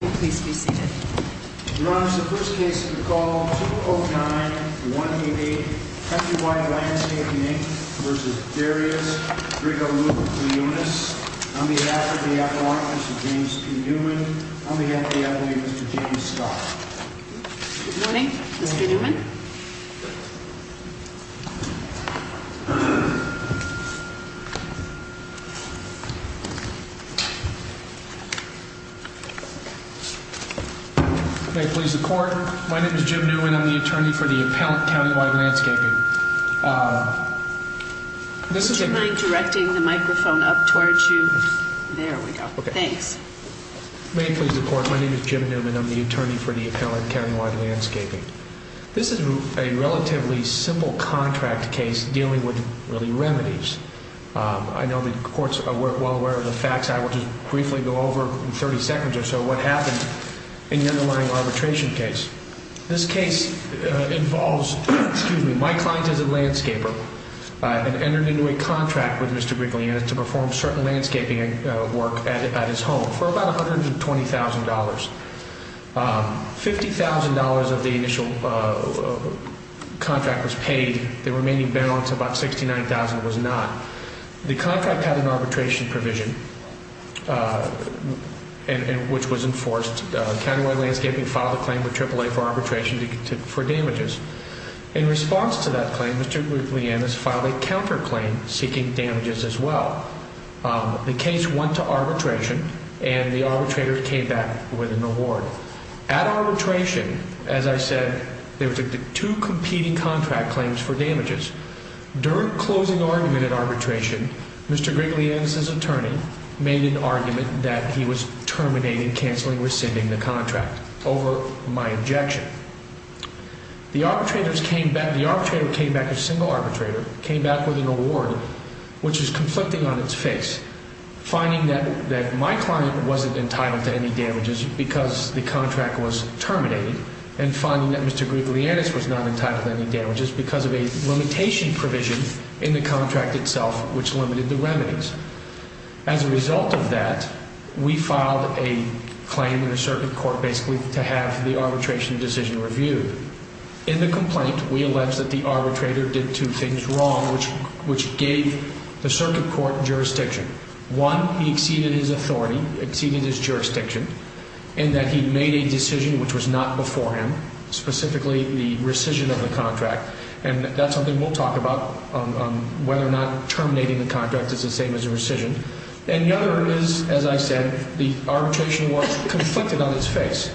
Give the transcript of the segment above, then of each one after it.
Your Honor, this is the first case of the call, 209-188, Country Wide Landscaping, Inc. v. Darius Grigaliunas. On behalf of the FY, Mr. James P. Newman. On behalf of the FD, Mr. James Scott. Good morning, Mr. Newman. May it please the Court. My name is Jim Newman. I'm the attorney for the appellant, County Wide Landscaping. Would you mind directing the microphone up towards you? There we go. Thanks. May it please the Court. My name is Jim Newman. I'm the attorney for the appellant, County Wide Landscaping. This is a relatively simple contract case dealing with really remedies. I know the courts are well aware of the facts. I will just briefly go over in 30 seconds or so what happened in the underlying arbitration case. This case involves my client as a landscaper and entered into a contract with Mr. Grigaliunas to perform certain landscaping work at his home for about $120,000. $50,000 of the initial contract was paid. The remaining balance, about $69,000, was not. The contract had an arbitration provision which was enforced. County Wide Landscaping filed a claim with AAA for arbitration for damages. In response to that claim, Mr. Grigaliunas filed a counterclaim seeking damages as well. The case went to arbitration and the arbitrator came back with an award. At arbitration, as I said, there were two competing contract claims for damages. During closing argument at arbitration, Mr. Grigaliunas' attorney made an argument that he was terminating, canceling, rescinding the contract over my objection. The arbitrator came back, a single arbitrator, came back with an award which is conflicting on its face, finding that my client wasn't entitled to any damages because the contract was terminated and finding that Mr. Grigaliunas was not entitled to any damages because of a limitation provision in the contract itself which limited the remedies. As a result of that, we filed a claim in a circuit court basically to have the arbitration decision reviewed. In the complaint, we allege that the arbitrator did two things wrong which gave the circuit court jurisdiction. One, he exceeded his authority, exceeded his jurisdiction, in that he made a decision which was not before him, specifically the rescission of the contract. And that's something we'll talk about, whether or not terminating the contract is the same as a rescission. And the other is, as I said, the arbitration was conflicted on its face.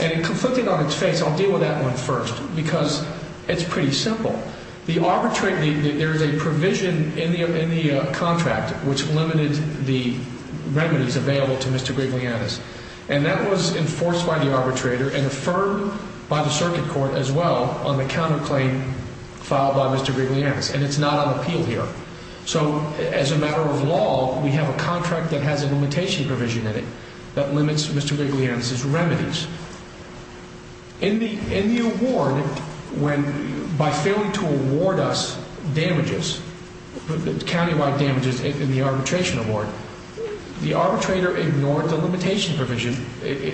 And conflicted on its face, I'll deal with that one first because it's pretty simple. There's a provision in the contract which limited the remedies available to Mr. Grigaliunas. And that was enforced by the arbitrator and affirmed by the circuit court as well on the counterclaim filed by Mr. Grigaliunas. And it's not on appeal here. So as a matter of law, we have a contract that has a limitation provision in it that limits Mr. Grigaliunas' remedies. In the award, by failing to award us damages, countywide damages in the arbitration award, the arbitrator ignored the limitation provision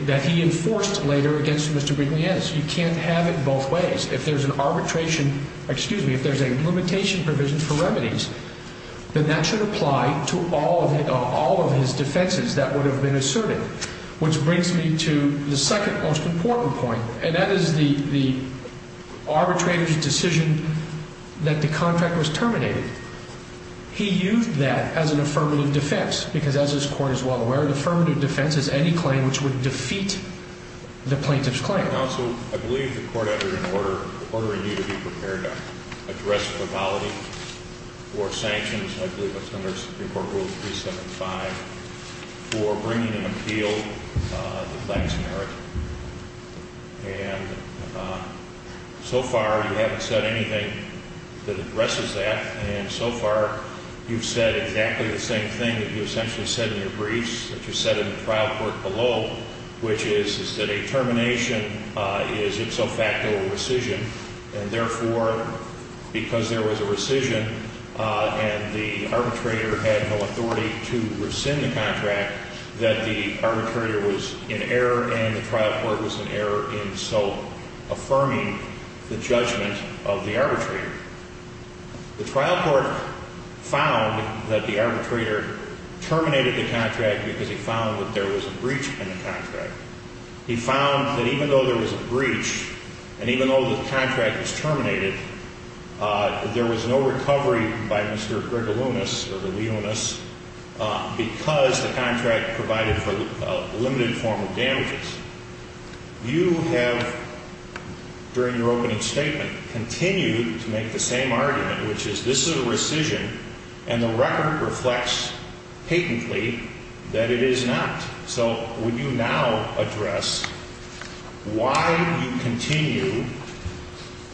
that he enforced later against Mr. Grigaliunas. You can't have it both ways. If there's an arbitration, excuse me, if there's a limitation provision for remedies, then that should apply to all of his defenses that would have been asserted. Which brings me to the second most important point, and that is the arbitrator's decision that the contract was terminated. He used that as an affirmative defense because, as this Court is well aware, an affirmative defense is any claim which would defeat the plaintiff's claim. Your Honor, counsel, I believe the court entered an order ordering you to be prepared to address fatality or sanctions, I believe that's under Supreme Court Rule 375, for bringing an appeal to the plaintiff's merit. And so far, you haven't said anything that addresses that. And so far, you've said exactly the same thing that you essentially said in your briefs, that you said in the trial court below, which is that a termination is, in so fact, a rescission. And therefore, because there was a rescission and the arbitrator had no authority to rescind the contract, that the arbitrator was in error and the trial court was in error in so affirming the judgment of the arbitrator. The trial court found that the arbitrator terminated the contract because he found that there was a breach in the contract. He found that even though there was a breach and even though the contract was terminated, there was no recovery by Mr. Gregelunas or the Leonis because the contract provided for a limited form of damages. You have, during your opening statement, continued to make the same argument, which is this is a rescission and the record reflects patently that it is not. So would you now address why you continue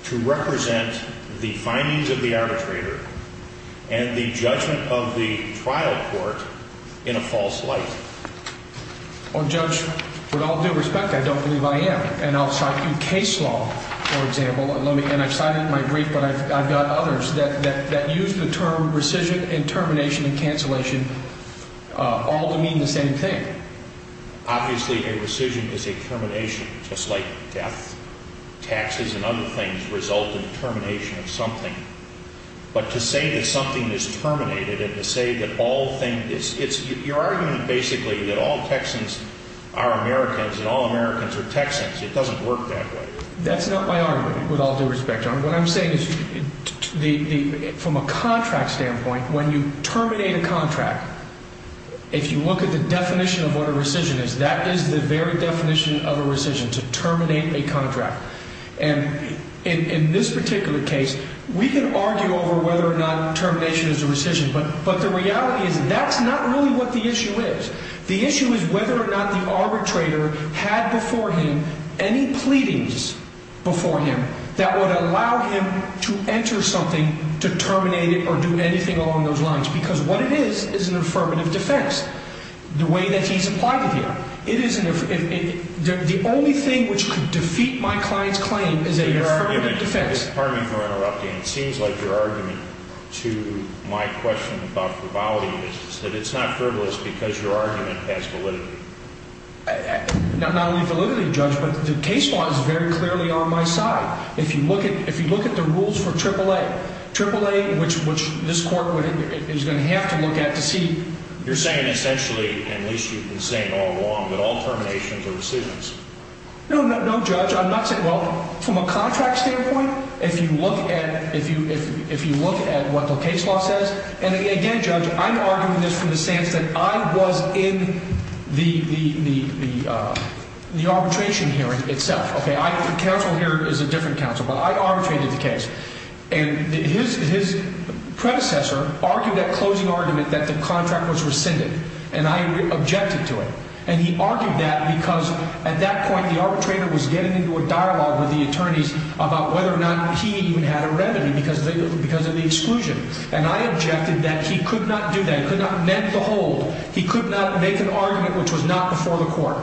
to represent the findings of the arbitrator and the judgment of the trial court in a false light? Well, Judge, with all due respect, I don't believe I am. And I'll cite you case law, for example, and I've cited it in my brief, but I've got others that use the term rescission and termination and cancellation all to mean the same thing. Obviously, a rescission is a termination, just like death, taxes, and other things result in termination of something. But to say that something is terminated and to say that all things, it's your argument basically that all Texans are Americans and all Americans are Texans. It doesn't work that way. That's not my argument, with all due respect. What I'm saying is from a contract standpoint, when you terminate a contract, if you look at the definition of what a rescission is, that is the very definition of a rescission, to terminate a contract. And in this particular case, we can argue over whether or not termination is a rescission, but the reality is that's not really what the issue is. The issue is whether or not the arbitrator had before him any pleadings before him that would allow him to enter something to terminate it or do anything along those lines, because what it is is an affirmative defense, the way that he's applied it here. The only thing which could defeat my client's claim is an affirmative defense. Pardon me for interrupting. It seems like your argument to my question about frivolity is that it's not frivolous because your argument has validity. Not only validity, Judge, but the case law is very clearly on my side. If you look at the rules for AAA, which this Court is going to have to look at to see. You're saying essentially, at least you've been saying all along, that all terminations are rescissions. No, Judge, I'm not saying that. Well, from a contract standpoint, if you look at what the case law says, and again, Judge, I'm arguing this from the sense that I was in the arbitration hearing itself. The counsel here is a different counsel, but I arbitrated the case. And his predecessor argued that closing argument that the contract was rescinded. And I objected to it. And he argued that because at that point the arbitrator was getting into a dialogue with the attorneys about whether or not he even had a remedy because of the exclusion. And I objected that he could not do that. He could not mend the hold. He could not make an argument which was not before the Court.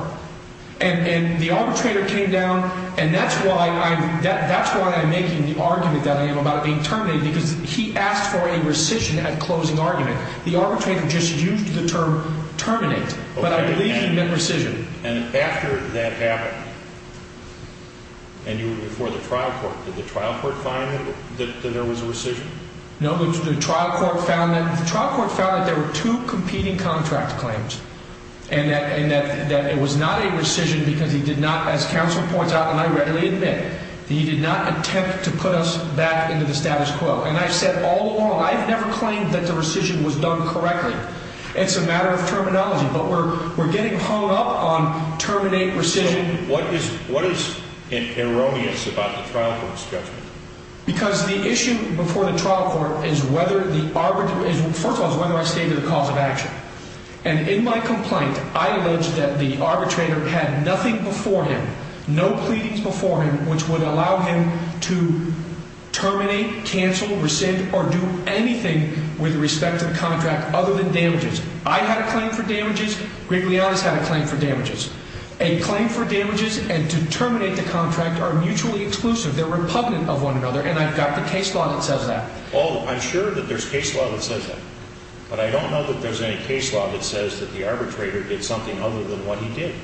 And the arbitrator came down, and that's why I'm making the argument that I am about it being terminated, because he asked for a rescission at closing argument. The arbitrator just used the term terminate. But I believe he meant rescission. And after that happened, and you were before the trial court, did the trial court find that there was a rescission? No, but the trial court found that there were two competing contract claims. And that it was not a rescission because he did not, as counsel points out, and I readily admit, that he did not attempt to put us back into the status quo. And I've said all along, I've never claimed that the rescission was done correctly. It's a matter of terminology, but we're getting hung up on terminate, rescission. So what is erroneous about the trial court's judgment? Because the issue before the trial court is whether the arbitrator, first of all, is whether I stayed to the cause of action. And in my complaint, I allege that the arbitrator had nothing before him, no pleadings before him, which would allow him to terminate, cancel, rescind, or do anything with respect to the contract other than damages. I had a claim for damages. Greg Leone has had a claim for damages. A claim for damages and to terminate the contract are mutually exclusive. They're repugnant of one another, and I've got the case law that says that. Oh, I'm sure that there's case law that says that. But I don't know that there's any case law that says that the arbitrator did something other than what he did.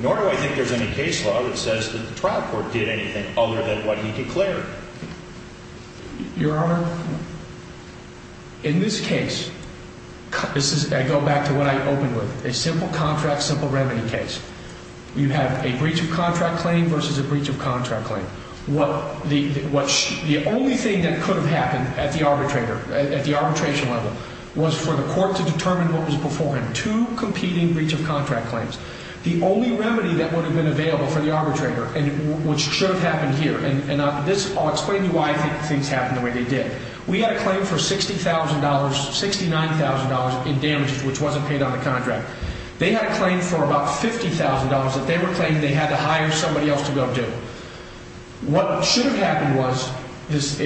Nor do I think there's any case law that says that the trial court did anything other than what he declared. Your Honor, in this case, this is, I go back to what I opened with, a simple contract, simple remedy case. You have a breach of contract claim versus a breach of contract claim. The only thing that could have happened at the arbitration level was for the court to determine what was before him. Two competing breach of contract claims. The only remedy that would have been available for the arbitrator, which should have happened here, and I'll explain to you why I think things happened the way they did. We had a claim for $60,000, $69,000 in damages, which wasn't paid on the contract. They had a claim for about $50,000 that they were claiming they had to hire somebody else to go do. What should have happened was, this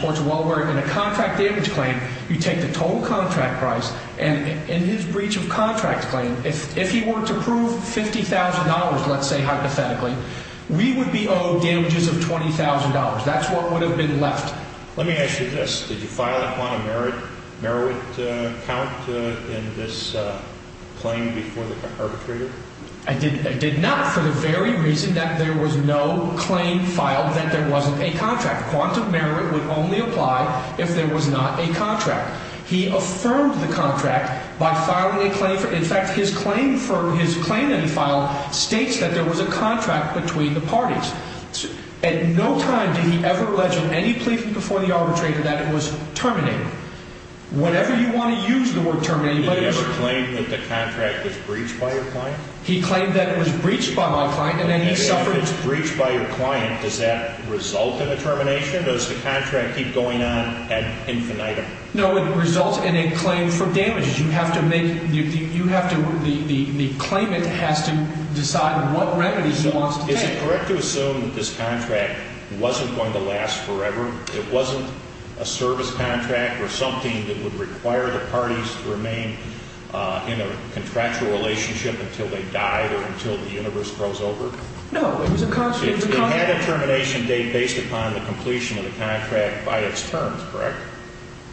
court's well aware, in a contract damage claim, you take the total contract price, and in his breach of contract claim, if he were to prove $50,000, let's say hypothetically, we would be owed damages of $20,000. That's what would have been left. Let me ask you this. Did you file a quantum merit count in this claim before the arbitrator? I did not, for the very reason that there was no claim filed that there wasn't a contract. Quantum merit would only apply if there was not a contract. He affirmed the contract by filing a claim. In fact, his claim that he filed states that there was a contract between the parties. At no time did he ever allege on any plea before the arbitrator that it was terminated. Whenever you want to use the word terminated, but it was true. Did he claim that the contract was breached by your client? He claimed that it was breached by my client, and then he suffered. If it's breached by your client, does that result in a termination? Does the contract keep going on ad infinitum? No, it results in a claim for damages. You have to make, you have to, the claimant has to decide what remedy he wants to take. Is it correct to assume that this contract wasn't going to last forever? It wasn't a service contract or something that would require the parties to remain in a contractual relationship until they died or until the universe froze over? No, it was a contract. It had a termination date based upon the completion of the contract by its terms, correct?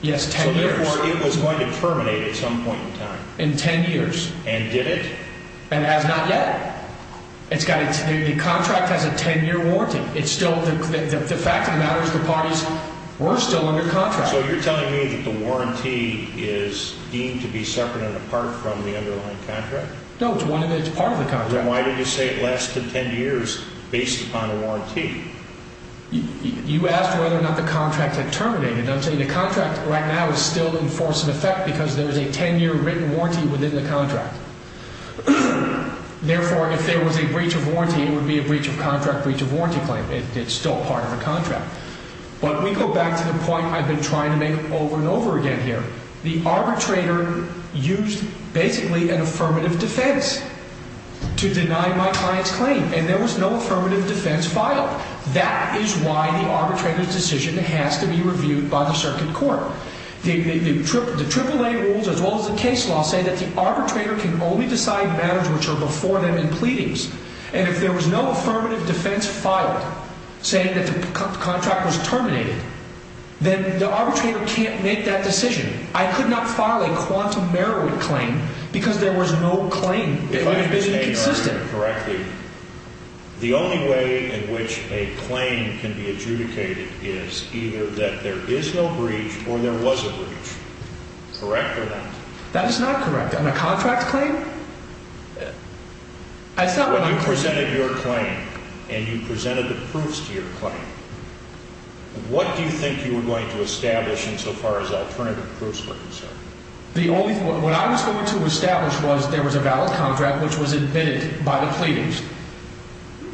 Yes, 10 years. So, therefore, it was going to terminate at some point in time. In 10 years. And did it? And has not yet. The contract has a 10-year warranty. It's still, the fact of the matter is the parties were still under contract. So you're telling me that the warranty is deemed to be separate and apart from the underlying contract? No, it's one of the, it's part of the contract. Then why did you say it lasted 10 years based upon a warranty? You asked whether or not the contract had terminated. I'm saying the contract right now is still in force and effect because there's a 10-year written warranty within the contract. Therefore, if there was a breach of warranty, it would be a breach of contract breach of warranty claim. It's still part of a contract. But we go back to the point I've been trying to make over and over again here. The arbitrator used basically an affirmative defense to deny my client's claim. And there was no affirmative defense filed. That is why the arbitrator's decision has to be reviewed by the circuit court. The AAA rules as well as the case law say that the arbitrator can only decide matters which are before them in pleadings. And if there was no affirmative defense filed saying that the contract was terminated, then the arbitrator can't make that decision. I could not file a quantum merit claim because there was no claim that would have been consistent. If I understand it correctly, the only way in which a claim can be adjudicated is either that there is no breach or there was a breach. Correct or not? That is not correct. On a contract claim? When you presented your claim and you presented the proofs to your claim, what do you think you were going to establish insofar as alternative proofs were concerned? What I was going to establish was there was a valid contract which was admitted by the pleadings,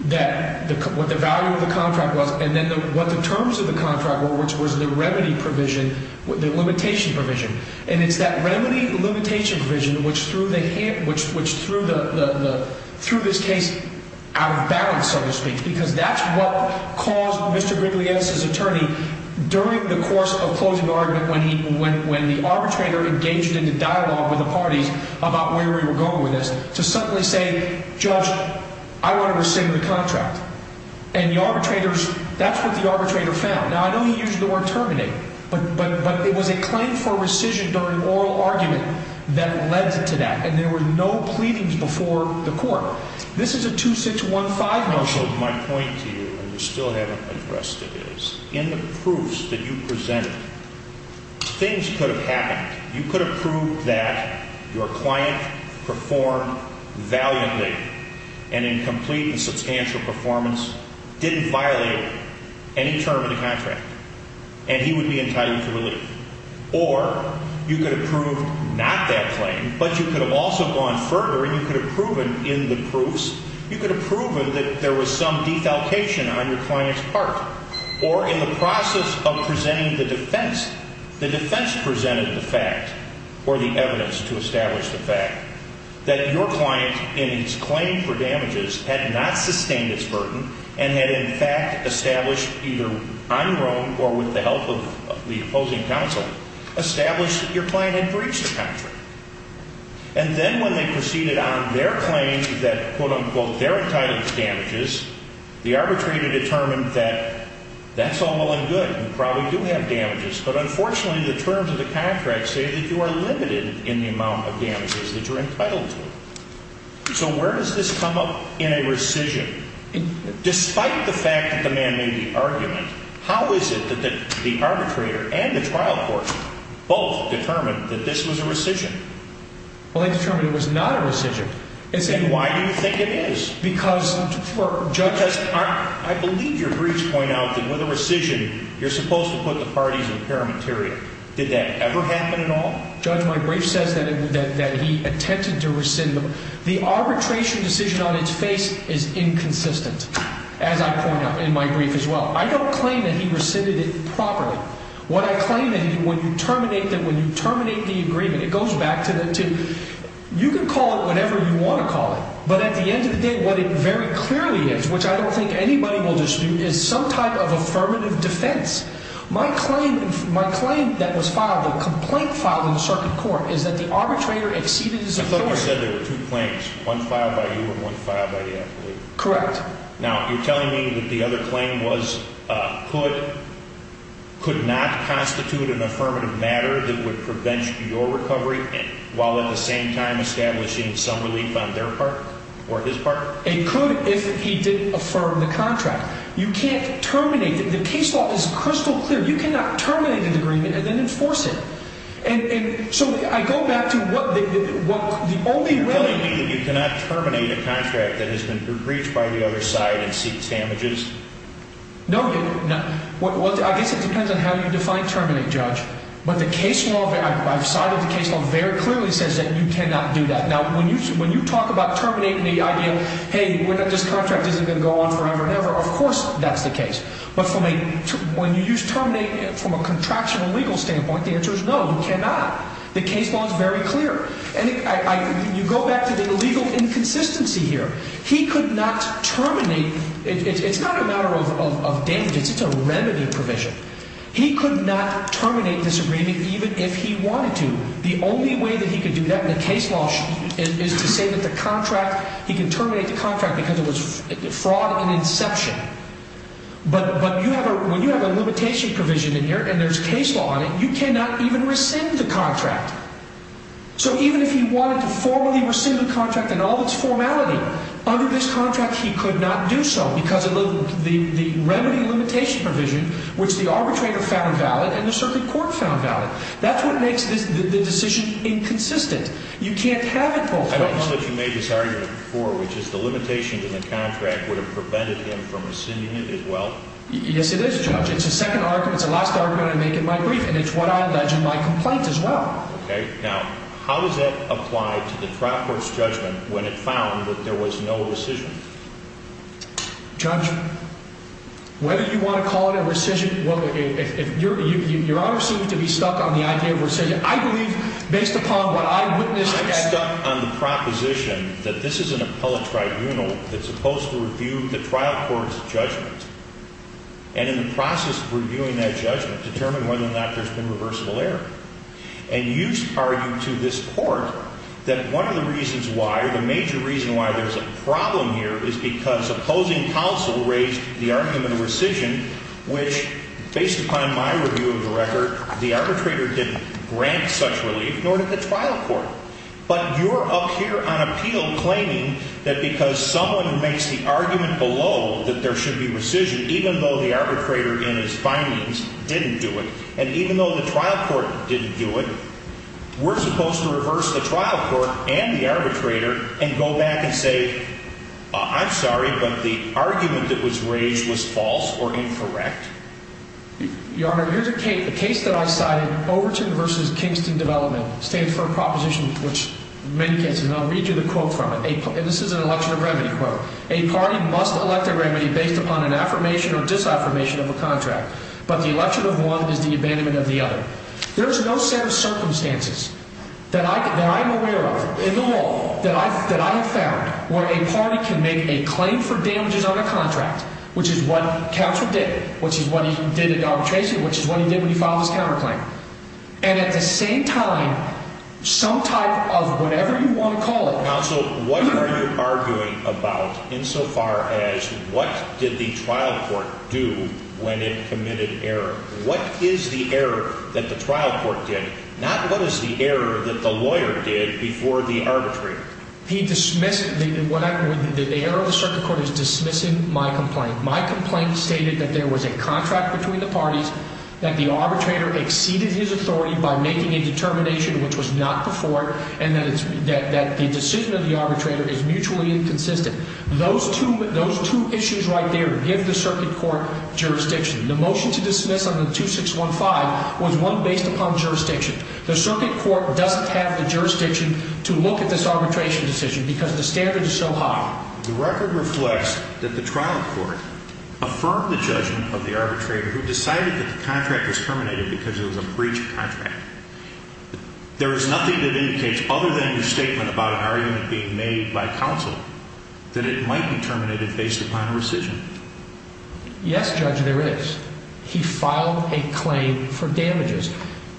what the value of the contract was, and then what the terms of the contract were, which was the remedy provision, the limitation provision. And it's that remedy limitation provision which threw this case out of balance, so to speak, because that's what caused Mr. Grigliese's attorney, during the course of closing the argument, when the arbitrator engaged in a dialogue with the parties about where we were going with this, to suddenly say, Judge, I want to rescind the contract. And the arbitrators, that's what the arbitrator found. Now, I know he used the word terminate, but it was a claim for rescission during oral argument that led to that. And there were no pleadings before the court. This is a 2615 motion. My point to you, and you still haven't addressed it, is in the proofs that you presented, things could have happened. You could have proved that your client performed valiantly and in complete and substantial performance, didn't violate any term of the contract, and he would be entitled to relief. Or you could have proved not that claim, but you could have also gone further and you could have proven in the proofs, you could have proven that there was some defalcation on your client's part. Or in the process of presenting the defense, the defense presented the fact, or the evidence to establish the fact, that your client, in his claim for damages, had not sustained its burden, and had in fact established either on your own or with the help of the opposing counsel, established that your client had breached the contract. And then when they proceeded on their claim that, quote, unquote, they're entitled to damages, the arbitrator determined that that's all well and good. You probably do have damages. But unfortunately, the terms of the contract say that you are limited in the amount of damages that you're entitled to. So where does this come up in a rescission? Despite the fact that the man made the argument, how is it that the arbitrator and the trial court both determined that this was a rescission? Well, they determined it was not a rescission. And why do you think it is? Because for Judge – Because I believe your briefs point out that with a rescission, you're supposed to put the parties in paramaterial. Did that ever happen at all? Judge, my brief says that he attempted to rescind them. The arbitration decision on its face is inconsistent, as I point out in my brief as well. I don't claim that he rescinded it properly. What I claim that when you terminate them, when you terminate the agreement, it goes back to the – you can call it whatever you want to call it. But at the end of the day, what it very clearly is, which I don't think anybody will dispute, is some type of affirmative defense. My claim – my claim that was filed, a complaint filed in the circuit court, is that the arbitrator exceeded his authority. You said there were two claims, one filed by you and one filed by the athlete. Correct. Now, you're telling me that the other claim was – could not constitute an affirmative matter that would prevent your recovery while at the same time establishing some relief on their part or his part? It could if he didn't affirm the contract. You can't terminate – the case law is crystal clear. You cannot terminate an agreement and then enforce it. And so I go back to what the only – You're telling me that you cannot terminate a contract that has been breached by the other side and seeks damages? No. I guess it depends on how you define terminate, Judge. But the case law – I've cited the case law very clearly says that you cannot do that. Now, when you talk about terminating the idea, hey, this contract isn't going to go on forever and ever, of course that's the case. But when you use terminate from a contractual legal standpoint, the answer is no, you cannot. The case law is very clear. And you go back to the legal inconsistency here. He could not terminate – it's not a matter of damages. It's a remedy provision. He could not terminate this agreement even if he wanted to. The only way that he could do that in the case law is to say that the contract – he can terminate the contract because it was fraud in inception. But when you have a limitation provision in here and there's case law on it, you cannot even rescind the contract. So even if he wanted to formally rescind the contract in all its formality, under this contract he could not do so because of the remedy limitation provision, which the arbitrator found valid and the circuit court found valid. That's what makes the decision inconsistent. You can't have it both ways. I don't know that you made this argument before, which is the limitation to the contract would have prevented him from rescinding it as well? Yes, it is, Judge. It's a second argument. It's the last argument I make in my brief, and it's what I allege in my complaint as well. Okay. Now, how does that apply to the trial court's judgment when it found that there was no rescission? Judge, whether you want to call it a rescission – well, your Honor seems to be stuck on the idea of rescission. I believe, based upon what I witnessed – I'm stuck on the proposition that this is an appellate tribunal that's supposed to review the trial court's judgment. And in the process of reviewing that judgment, determine whether or not there's been reversible error. And you argue to this court that one of the reasons why, or the major reason why there's a problem here, is because opposing counsel raised the argument of rescission, which, based upon my review of the record, the arbitrator didn't grant such relief, nor did the trial court. But you're up here on appeal claiming that because someone makes the argument below that there should be rescission, even though the arbitrator in his findings didn't do it, and even though the trial court didn't do it, we're supposed to reverse the trial court and the arbitrator and go back and say, I'm sorry, but the argument that was raised was false or incorrect? Your Honor, here's a case that I cited. Overton v. Kingston Development. Stands for a proposition which many cases – and I'll read you the quote from it. And this is an election of remedy quote. A party must elect a remedy based upon an affirmation or disaffirmation of a contract. But the election of one is the abandonment of the other. There's no set of circumstances that I'm aware of in the law that I have found where a party can make a claim for damages on a contract, which is what counsel did, which is what he did at Dobby Chase, which is what he did when he filed his counterclaim. And at the same time, some type of whatever you want to call it – insofar as what did the trial court do when it committed error? What is the error that the trial court did, not what is the error that the lawyer did before the arbitrator? He dismissed – the error of the circuit court is dismissing my complaint. My complaint stated that there was a contract between the parties, that the arbitrator exceeded his authority by making a determination which was not before, and that the decision of the arbitrator is mutually inconsistent. Those two issues right there give the circuit court jurisdiction. The motion to dismiss on the 2615 was one based upon jurisdiction. The circuit court doesn't have the jurisdiction to look at this arbitration decision because the standard is so high. The record reflects that the trial court affirmed the judgment of the arbitrator who decided that the contract was terminated because it was a breach of contract. There is nothing that indicates, other than your statement about an argument being made by counsel, that it might be terminated based upon a rescission. Yes, Judge, there is. He filed a claim for damages.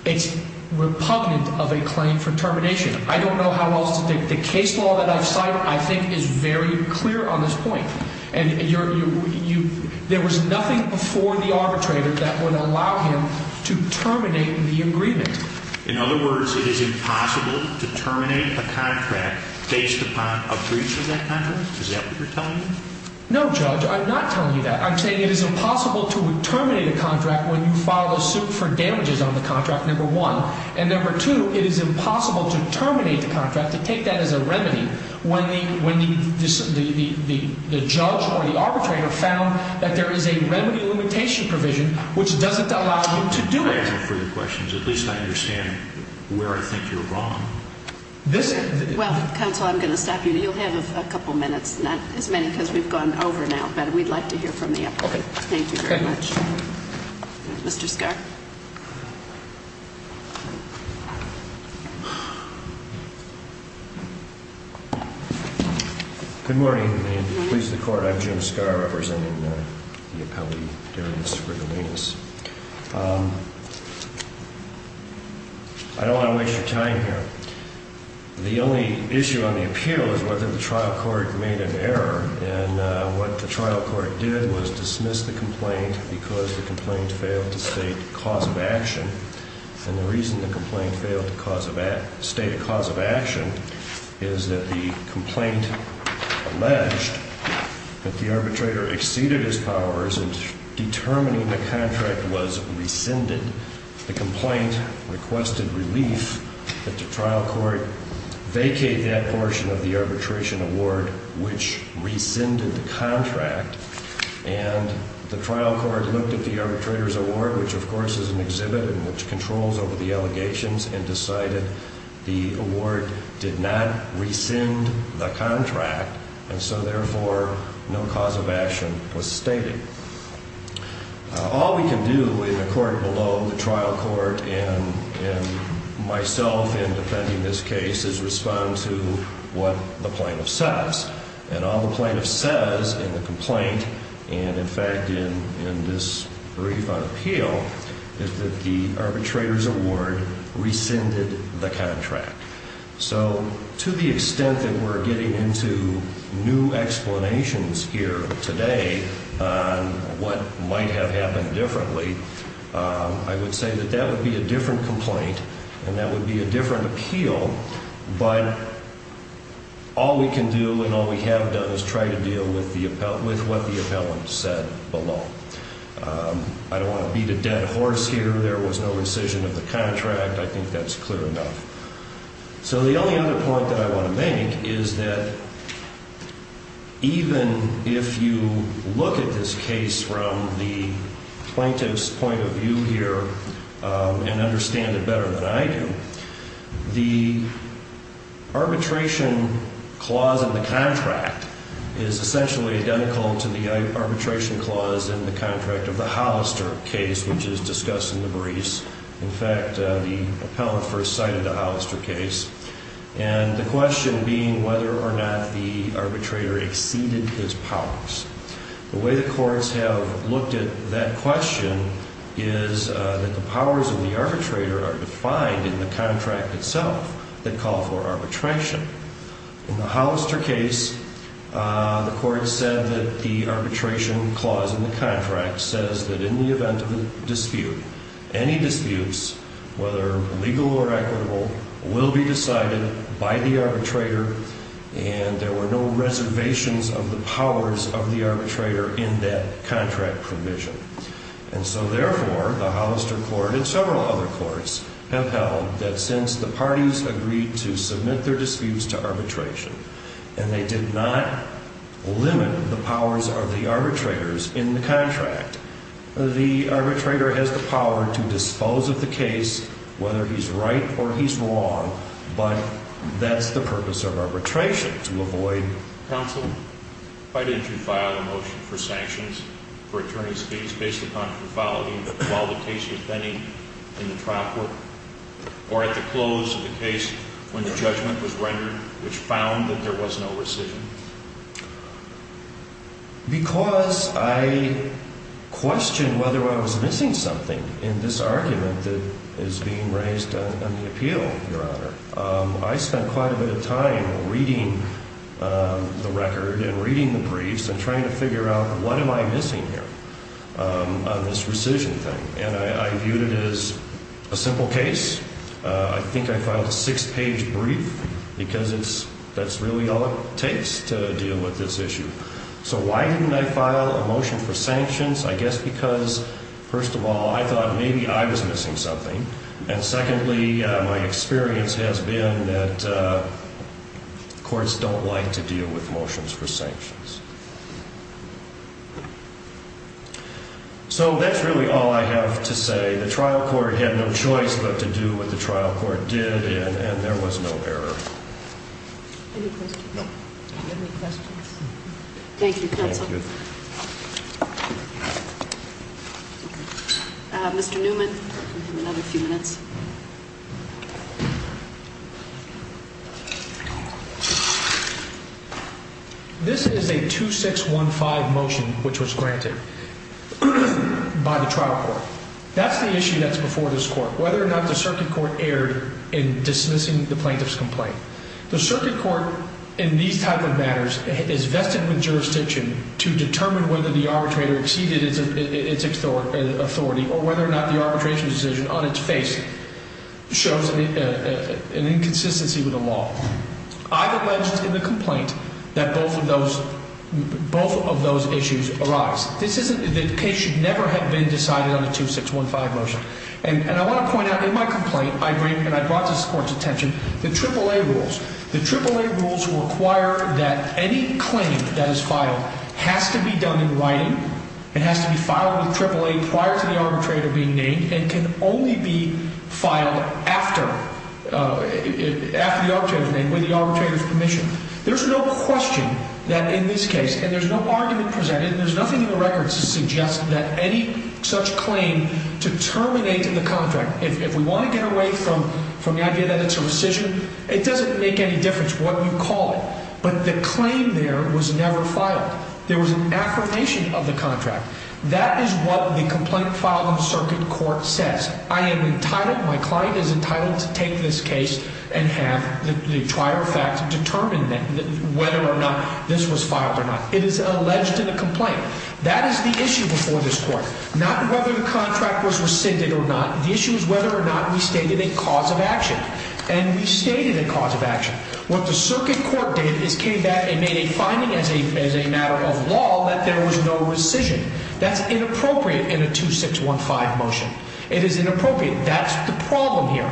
It's repugnant of a claim for termination. I don't know how else – the case law that I've cited, I think, is very clear on this point. There was nothing before the arbitrator that would allow him to terminate the agreement. In other words, it is impossible to terminate a contract based upon a breach of that contract? Is that what you're telling me? No, Judge, I'm not telling you that. I'm saying it is impossible to terminate a contract when you file a suit for damages on the contract, number one. And number two, it is impossible to terminate the contract, to take that as a remedy, when the judge or the arbitrator found that there is a remedy limitation provision which doesn't allow him to do it. I don't know the answer to your questions. At least I understand where I think you're wrong. Well, counsel, I'm going to stop you. You'll have a couple of minutes, not as many because we've gone over now, but we'd like to hear from you. Okay. Thank you very much. Okay. Mr. Skar? Good morning. Please, the Court. I'm Jim Skar, representing the appellee, Darius Rigolinus. I don't want to waste your time here. The only issue on the appeal is whether the trial court made an error. And what the trial court did was dismiss the complaint because the complaint failed to state cause of action. And the reason the complaint failed to state a cause of action is that the complaint alleged that the arbitrator exceeded his powers in determining the contract was rescinded. The complaint requested relief that the trial court vacate that portion of the arbitration award which rescinded the contract. And the trial court looked at the arbitrator's award, which of course is an exhibit and which controls over the allegations, and decided the award did not rescind the contract, and so therefore no cause of action was stated. All we can do in the court below, the trial court, and myself in defending this case, is respond to what the plaintiff says. And all the plaintiff says in the complaint, and in fact in this brief on appeal, is that the arbitrator's award rescinded the contract. So to the extent that we're getting into new explanations here today on what might have happened differently, I would say that that would be a different complaint and that would be a different appeal. But all we can do and all we have done is try to deal with what the appellant said below. I don't want to beat a dead horse here. There was no rescission of the contract. I think that's clear enough. So the only other point that I want to make is that even if you look at this case from the plaintiff's point of view here and understand it better than I do, the arbitration clause in the contract is essentially identical to the arbitration clause in the contract of the Hollister case, which is discussed in the briefs. In fact, the appellant first cited the Hollister case, and the question being whether or not the arbitrator exceeded his powers. The way the courts have looked at that question is that the powers of the arbitrator are defined in the contract itself that call for arbitration. In the Hollister case, the court said that the arbitration clause in the contract says that in the event of a dispute, any disputes, whether legal or equitable, will be decided by the arbitrator, and there were no reservations of the powers of the arbitrator in that contract provision. And so therefore, the Hollister court and several other courts have held that since the parties agreed to submit their disputes to arbitration and they did not limit the powers of the arbitrators in the contract, the arbitrator has the power to dispose of the case, whether he's right or he's wrong, but that's the purpose of arbitration, to avoid... Counsel, why didn't you file a motion for sanctions for attorney's fees based upon profanity while the case was pending in the trial court or at the close of the case when the judgment was rendered, which found that there was no rescission? Because I questioned whether I was missing something in this argument that is being raised on the appeal, Your Honor. I spent quite a bit of time reading the record and reading the briefs and trying to figure out what am I missing here on this rescission thing, and I viewed it as a simple case. I think I filed a six-page brief because that's really all it takes to deal with this issue. So why didn't I file a motion for sanctions? I guess because, first of all, I thought maybe I was missing something, and secondly, my experience has been that courts don't like to deal with motions for sanctions. So that's really all I have to say. The trial court had no choice but to do what the trial court did, and there was no error. Any questions? No. Do you have any questions? Thank you, counsel. Thank you. Mr. Newman, you have another few minutes. This is a 2615 motion which was granted by the trial court. That's the issue that's before this court, whether or not the circuit court erred in dismissing the plaintiff's complaint. The circuit court in these type of matters is vested with jurisdiction to determine whether the arbitrator exceeded its authority or whether or not the arbitration decision on its face shows an inconsistency with the law. I've alleged in the complaint that both of those issues arise. The case should never have been decided on a 2615 motion. And I want to point out in my complaint, and I brought this to the court's attention, the AAA rules. The AAA rules require that any claim that is filed has to be done in writing. It has to be filed with AAA prior to the arbitrator being named and can only be filed after the arbitrator is named with the arbitrator's permission. There's no question that in this case, and there's no argument presented, and there's nothing in the records to suggest that any such claim to terminate the contract, if we want to get away from the idea that it's a rescission, it doesn't make any difference what we call it. But the claim there was never filed. There was an affirmation of the contract. That is what the complaint filed in circuit court says. I am entitled, my client is entitled to take this case and have the prior facts determine whether or not this was filed or not. It is alleged in the complaint. That is the issue before this court. Not whether the contract was rescinded or not. The issue is whether or not we stated a cause of action. And we stated a cause of action. What the circuit court did is came back and made a finding as a matter of law that there was no rescission. That's inappropriate in a 2615 motion. It is inappropriate. That's the problem here.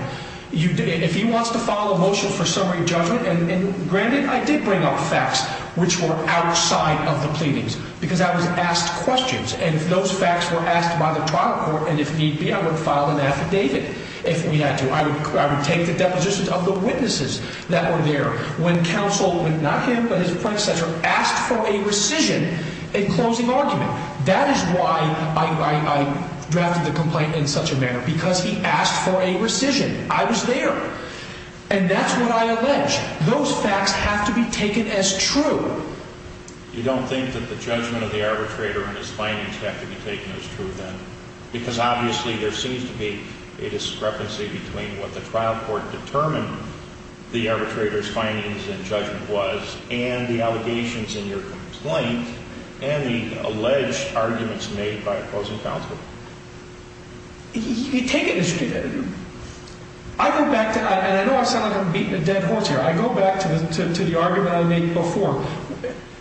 If he wants to file a motion for summary judgment, and granted, I did bring up facts which were outside of the pleadings, because I was asked questions, and those facts were asked by the trial court, and if need be, I would have filed an affidavit if we had to. I would take the depositions of the witnesses that were there when counsel, not him, but his predecessor, asked for a rescission in closing argument. That is why I drafted the complaint in such a manner, because he asked for a rescission. I was there. And that's what I allege. Those facts have to be taken as true. You don't think that the judgment of the arbitrator and his findings have to be taken as true then? Because obviously there seems to be a discrepancy between what the trial court determined the arbitrator's findings and judgment was and the allegations in your complaint and the alleged arguments made by opposing counsel. You take it as true. I go back to, and I know I sound like I'm beating a dead horse here, I go back to the argument I made before.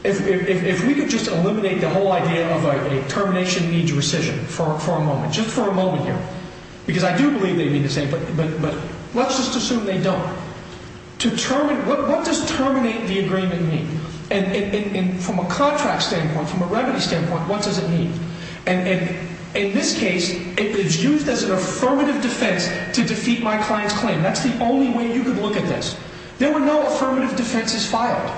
If we could just eliminate the whole idea of a termination needs rescission for a moment, just for a moment here, because I do believe they mean the same, but let's just assume they don't. What does terminate the agreement mean? And from a contract standpoint, from a remedy standpoint, what does it mean? And in this case, it is used as an affirmative defense to defeat my client's claim. That's the only way you could look at this. There were no affirmative defenses filed.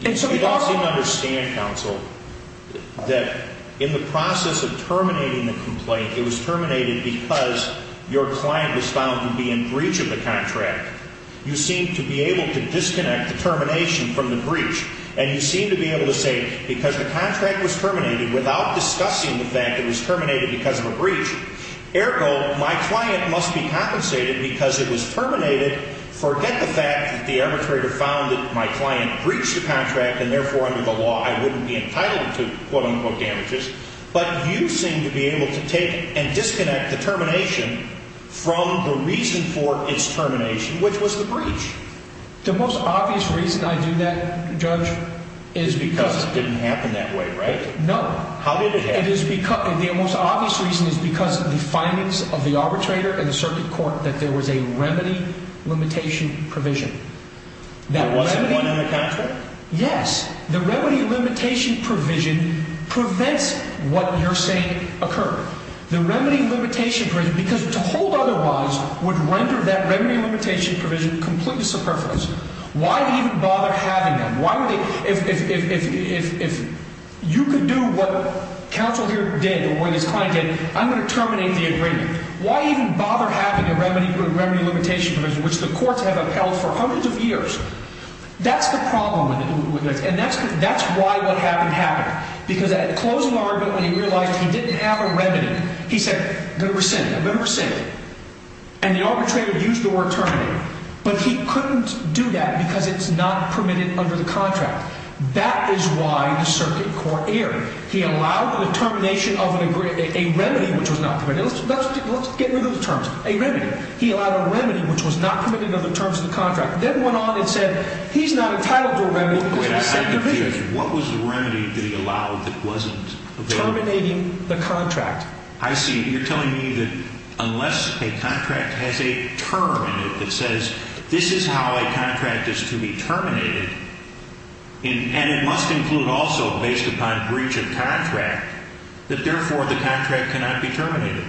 You don't seem to understand, counsel, that in the process of terminating the complaint, it was terminated because your client was found to be in breach of the contract. You seem to be able to disconnect the termination from the breach, and you seem to be able to say because the contract was terminated without discussing the fact it was terminated because of a breach, ergo my client must be compensated because it was terminated. Forget the fact that the arbitrator found that my client breached the contract, and therefore under the law I wouldn't be entitled to quote-unquote damages, but you seem to be able to take and disconnect the termination from the reason for its termination, which was the breach. The most obvious reason I do that, Judge, is because… Because it didn't happen that way, right? No. How did it happen? The most obvious reason is because of the findings of the arbitrator and the circuit court that there was a remedy limitation provision. There was one in the contract? Yes. The remedy limitation provision prevents what you're saying occur. The remedy limitation provision, because to hold otherwise would render that remedy limitation provision completely superfluous. Why even bother having them? If you could do what counsel here did, or what his client did, I'm going to terminate the agreement. Why even bother having a remedy limitation provision, which the courts have upheld for hundreds of years? That's the problem with it, and that's why what happened happened, because at closing argument when he realized he didn't have a remedy, he said, I'm going to rescind it, I'm going to rescind it, and the arbitrator used the word terminate, but he couldn't do that because it's not permitted under the contract. That is why the circuit court erred. He allowed the termination of a remedy, which was not permitted. Let's get rid of the terms. A remedy. He allowed a remedy, which was not permitted under the terms of the contract, then went on and said he's not entitled to a remedy because of the second provision. What was the remedy that he allowed that wasn't permitted? Terminating the contract. I see. You're telling me that unless a contract has a term in it that says this is how a contract is to be terminated, and it must include also based upon breach of contract, that therefore the contract cannot be terminated.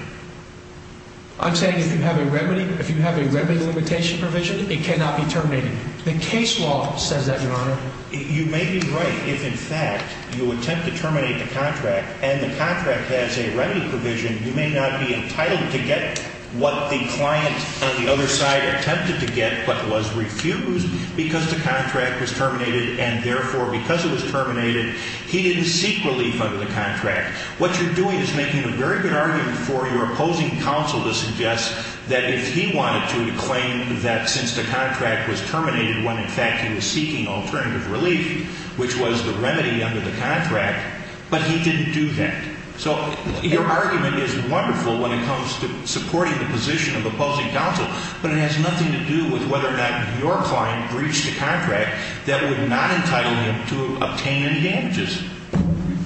I'm saying if you have a remedy limitation provision, it cannot be terminated. The case law says that, Your Honor. You may be right if, in fact, you attempt to terminate the contract, and the contract has a remedy provision. You may not be entitled to get what the client on the other side attempted to get, but was refused because the contract was terminated, and, therefore, because it was terminated, he didn't seek relief under the contract. What you're doing is making a very good argument for your opposing counsel to suggest that if he wanted to, since the contract was terminated when, in fact, he was seeking alternative relief, which was the remedy under the contract, but he didn't do that. So your argument is wonderful when it comes to supporting the position of opposing counsel, but it has nothing to do with whether or not your client breached the contract that would not entitle him to obtain any damages.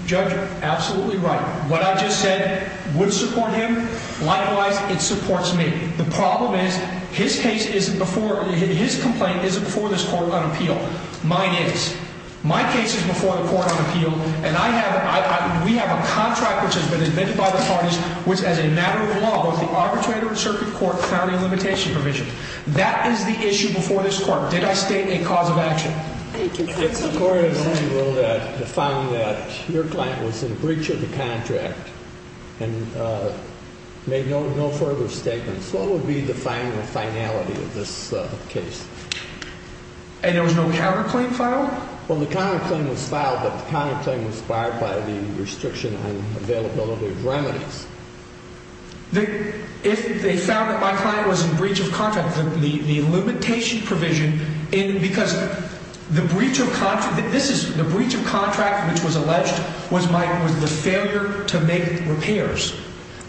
Judge, absolutely right. What I just said would support him. Likewise, it supports me. The problem is his case isn't before – his complaint isn't before this court on appeal. Mine is. My case is before the court on appeal, and I have – we have a contract which has been admitted by the parties, which, as a matter of law, was the Arbitrator and Circuit Court County Limitation Provision. That is the issue before this court. Did I state a cause of action? Thank you. If the court on appeal found that your client was in breach of the contract and made no further statements, what would be the final finality of this case? And there was no counterclaim filed? Well, the counterclaim was filed, but the counterclaim was barred by the restriction on availability of remedies. If they found that my client was in breach of contract, the limitation provision – because the breach of contract – this is – the breach of contract which was alleged was my – was the failure to make repairs.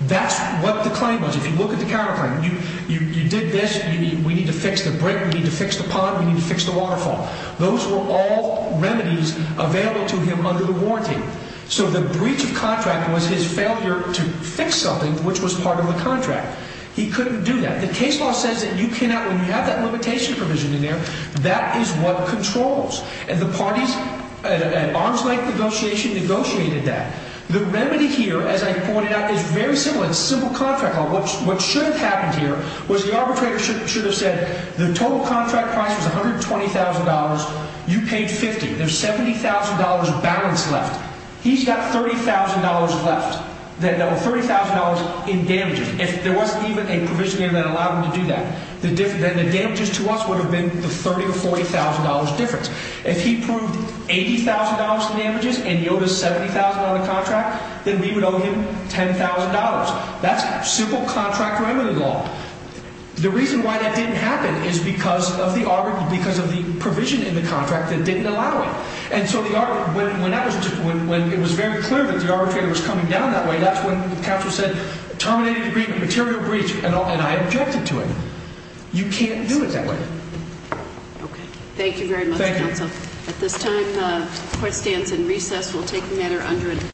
That's what the claim was. If you look at the counterclaim, you did this, we need to fix the brick, we need to fix the pond, we need to fix the waterfall. Those were all remedies available to him under the warranty. So the breach of contract was his failure to fix something which was part of the contract. He couldn't do that. The case law says that you cannot – when you have that limitation provision in there, that is what controls. And the parties – an arms-length negotiation negotiated that. The remedy here, as I pointed out, is very similar. It's simple contract law. What should have happened here was the arbitrator should have said the total contract price was $120,000. You paid $50,000. There's $70,000 balance left. He's got $30,000 left. $30,000 in damages. If there wasn't even a provision in there that allowed him to do that, then the damages to us would have been the $30,000 or $40,000 difference. If he proved $80,000 in damages and he owed us $70,000 on the contract, then we would owe him $10,000. That's simple contract remedy law. The reason why that didn't happen is because of the provision in the contract that didn't allow it. And so when it was very clear that the arbitrator was coming down that way, that's when the counsel said terminate the agreement, material breach, and I objected to it. You can't do it that way. Okay. Thank you very much, counsel. Thank you. At this time, the court stands in recess. We'll take the matter under a –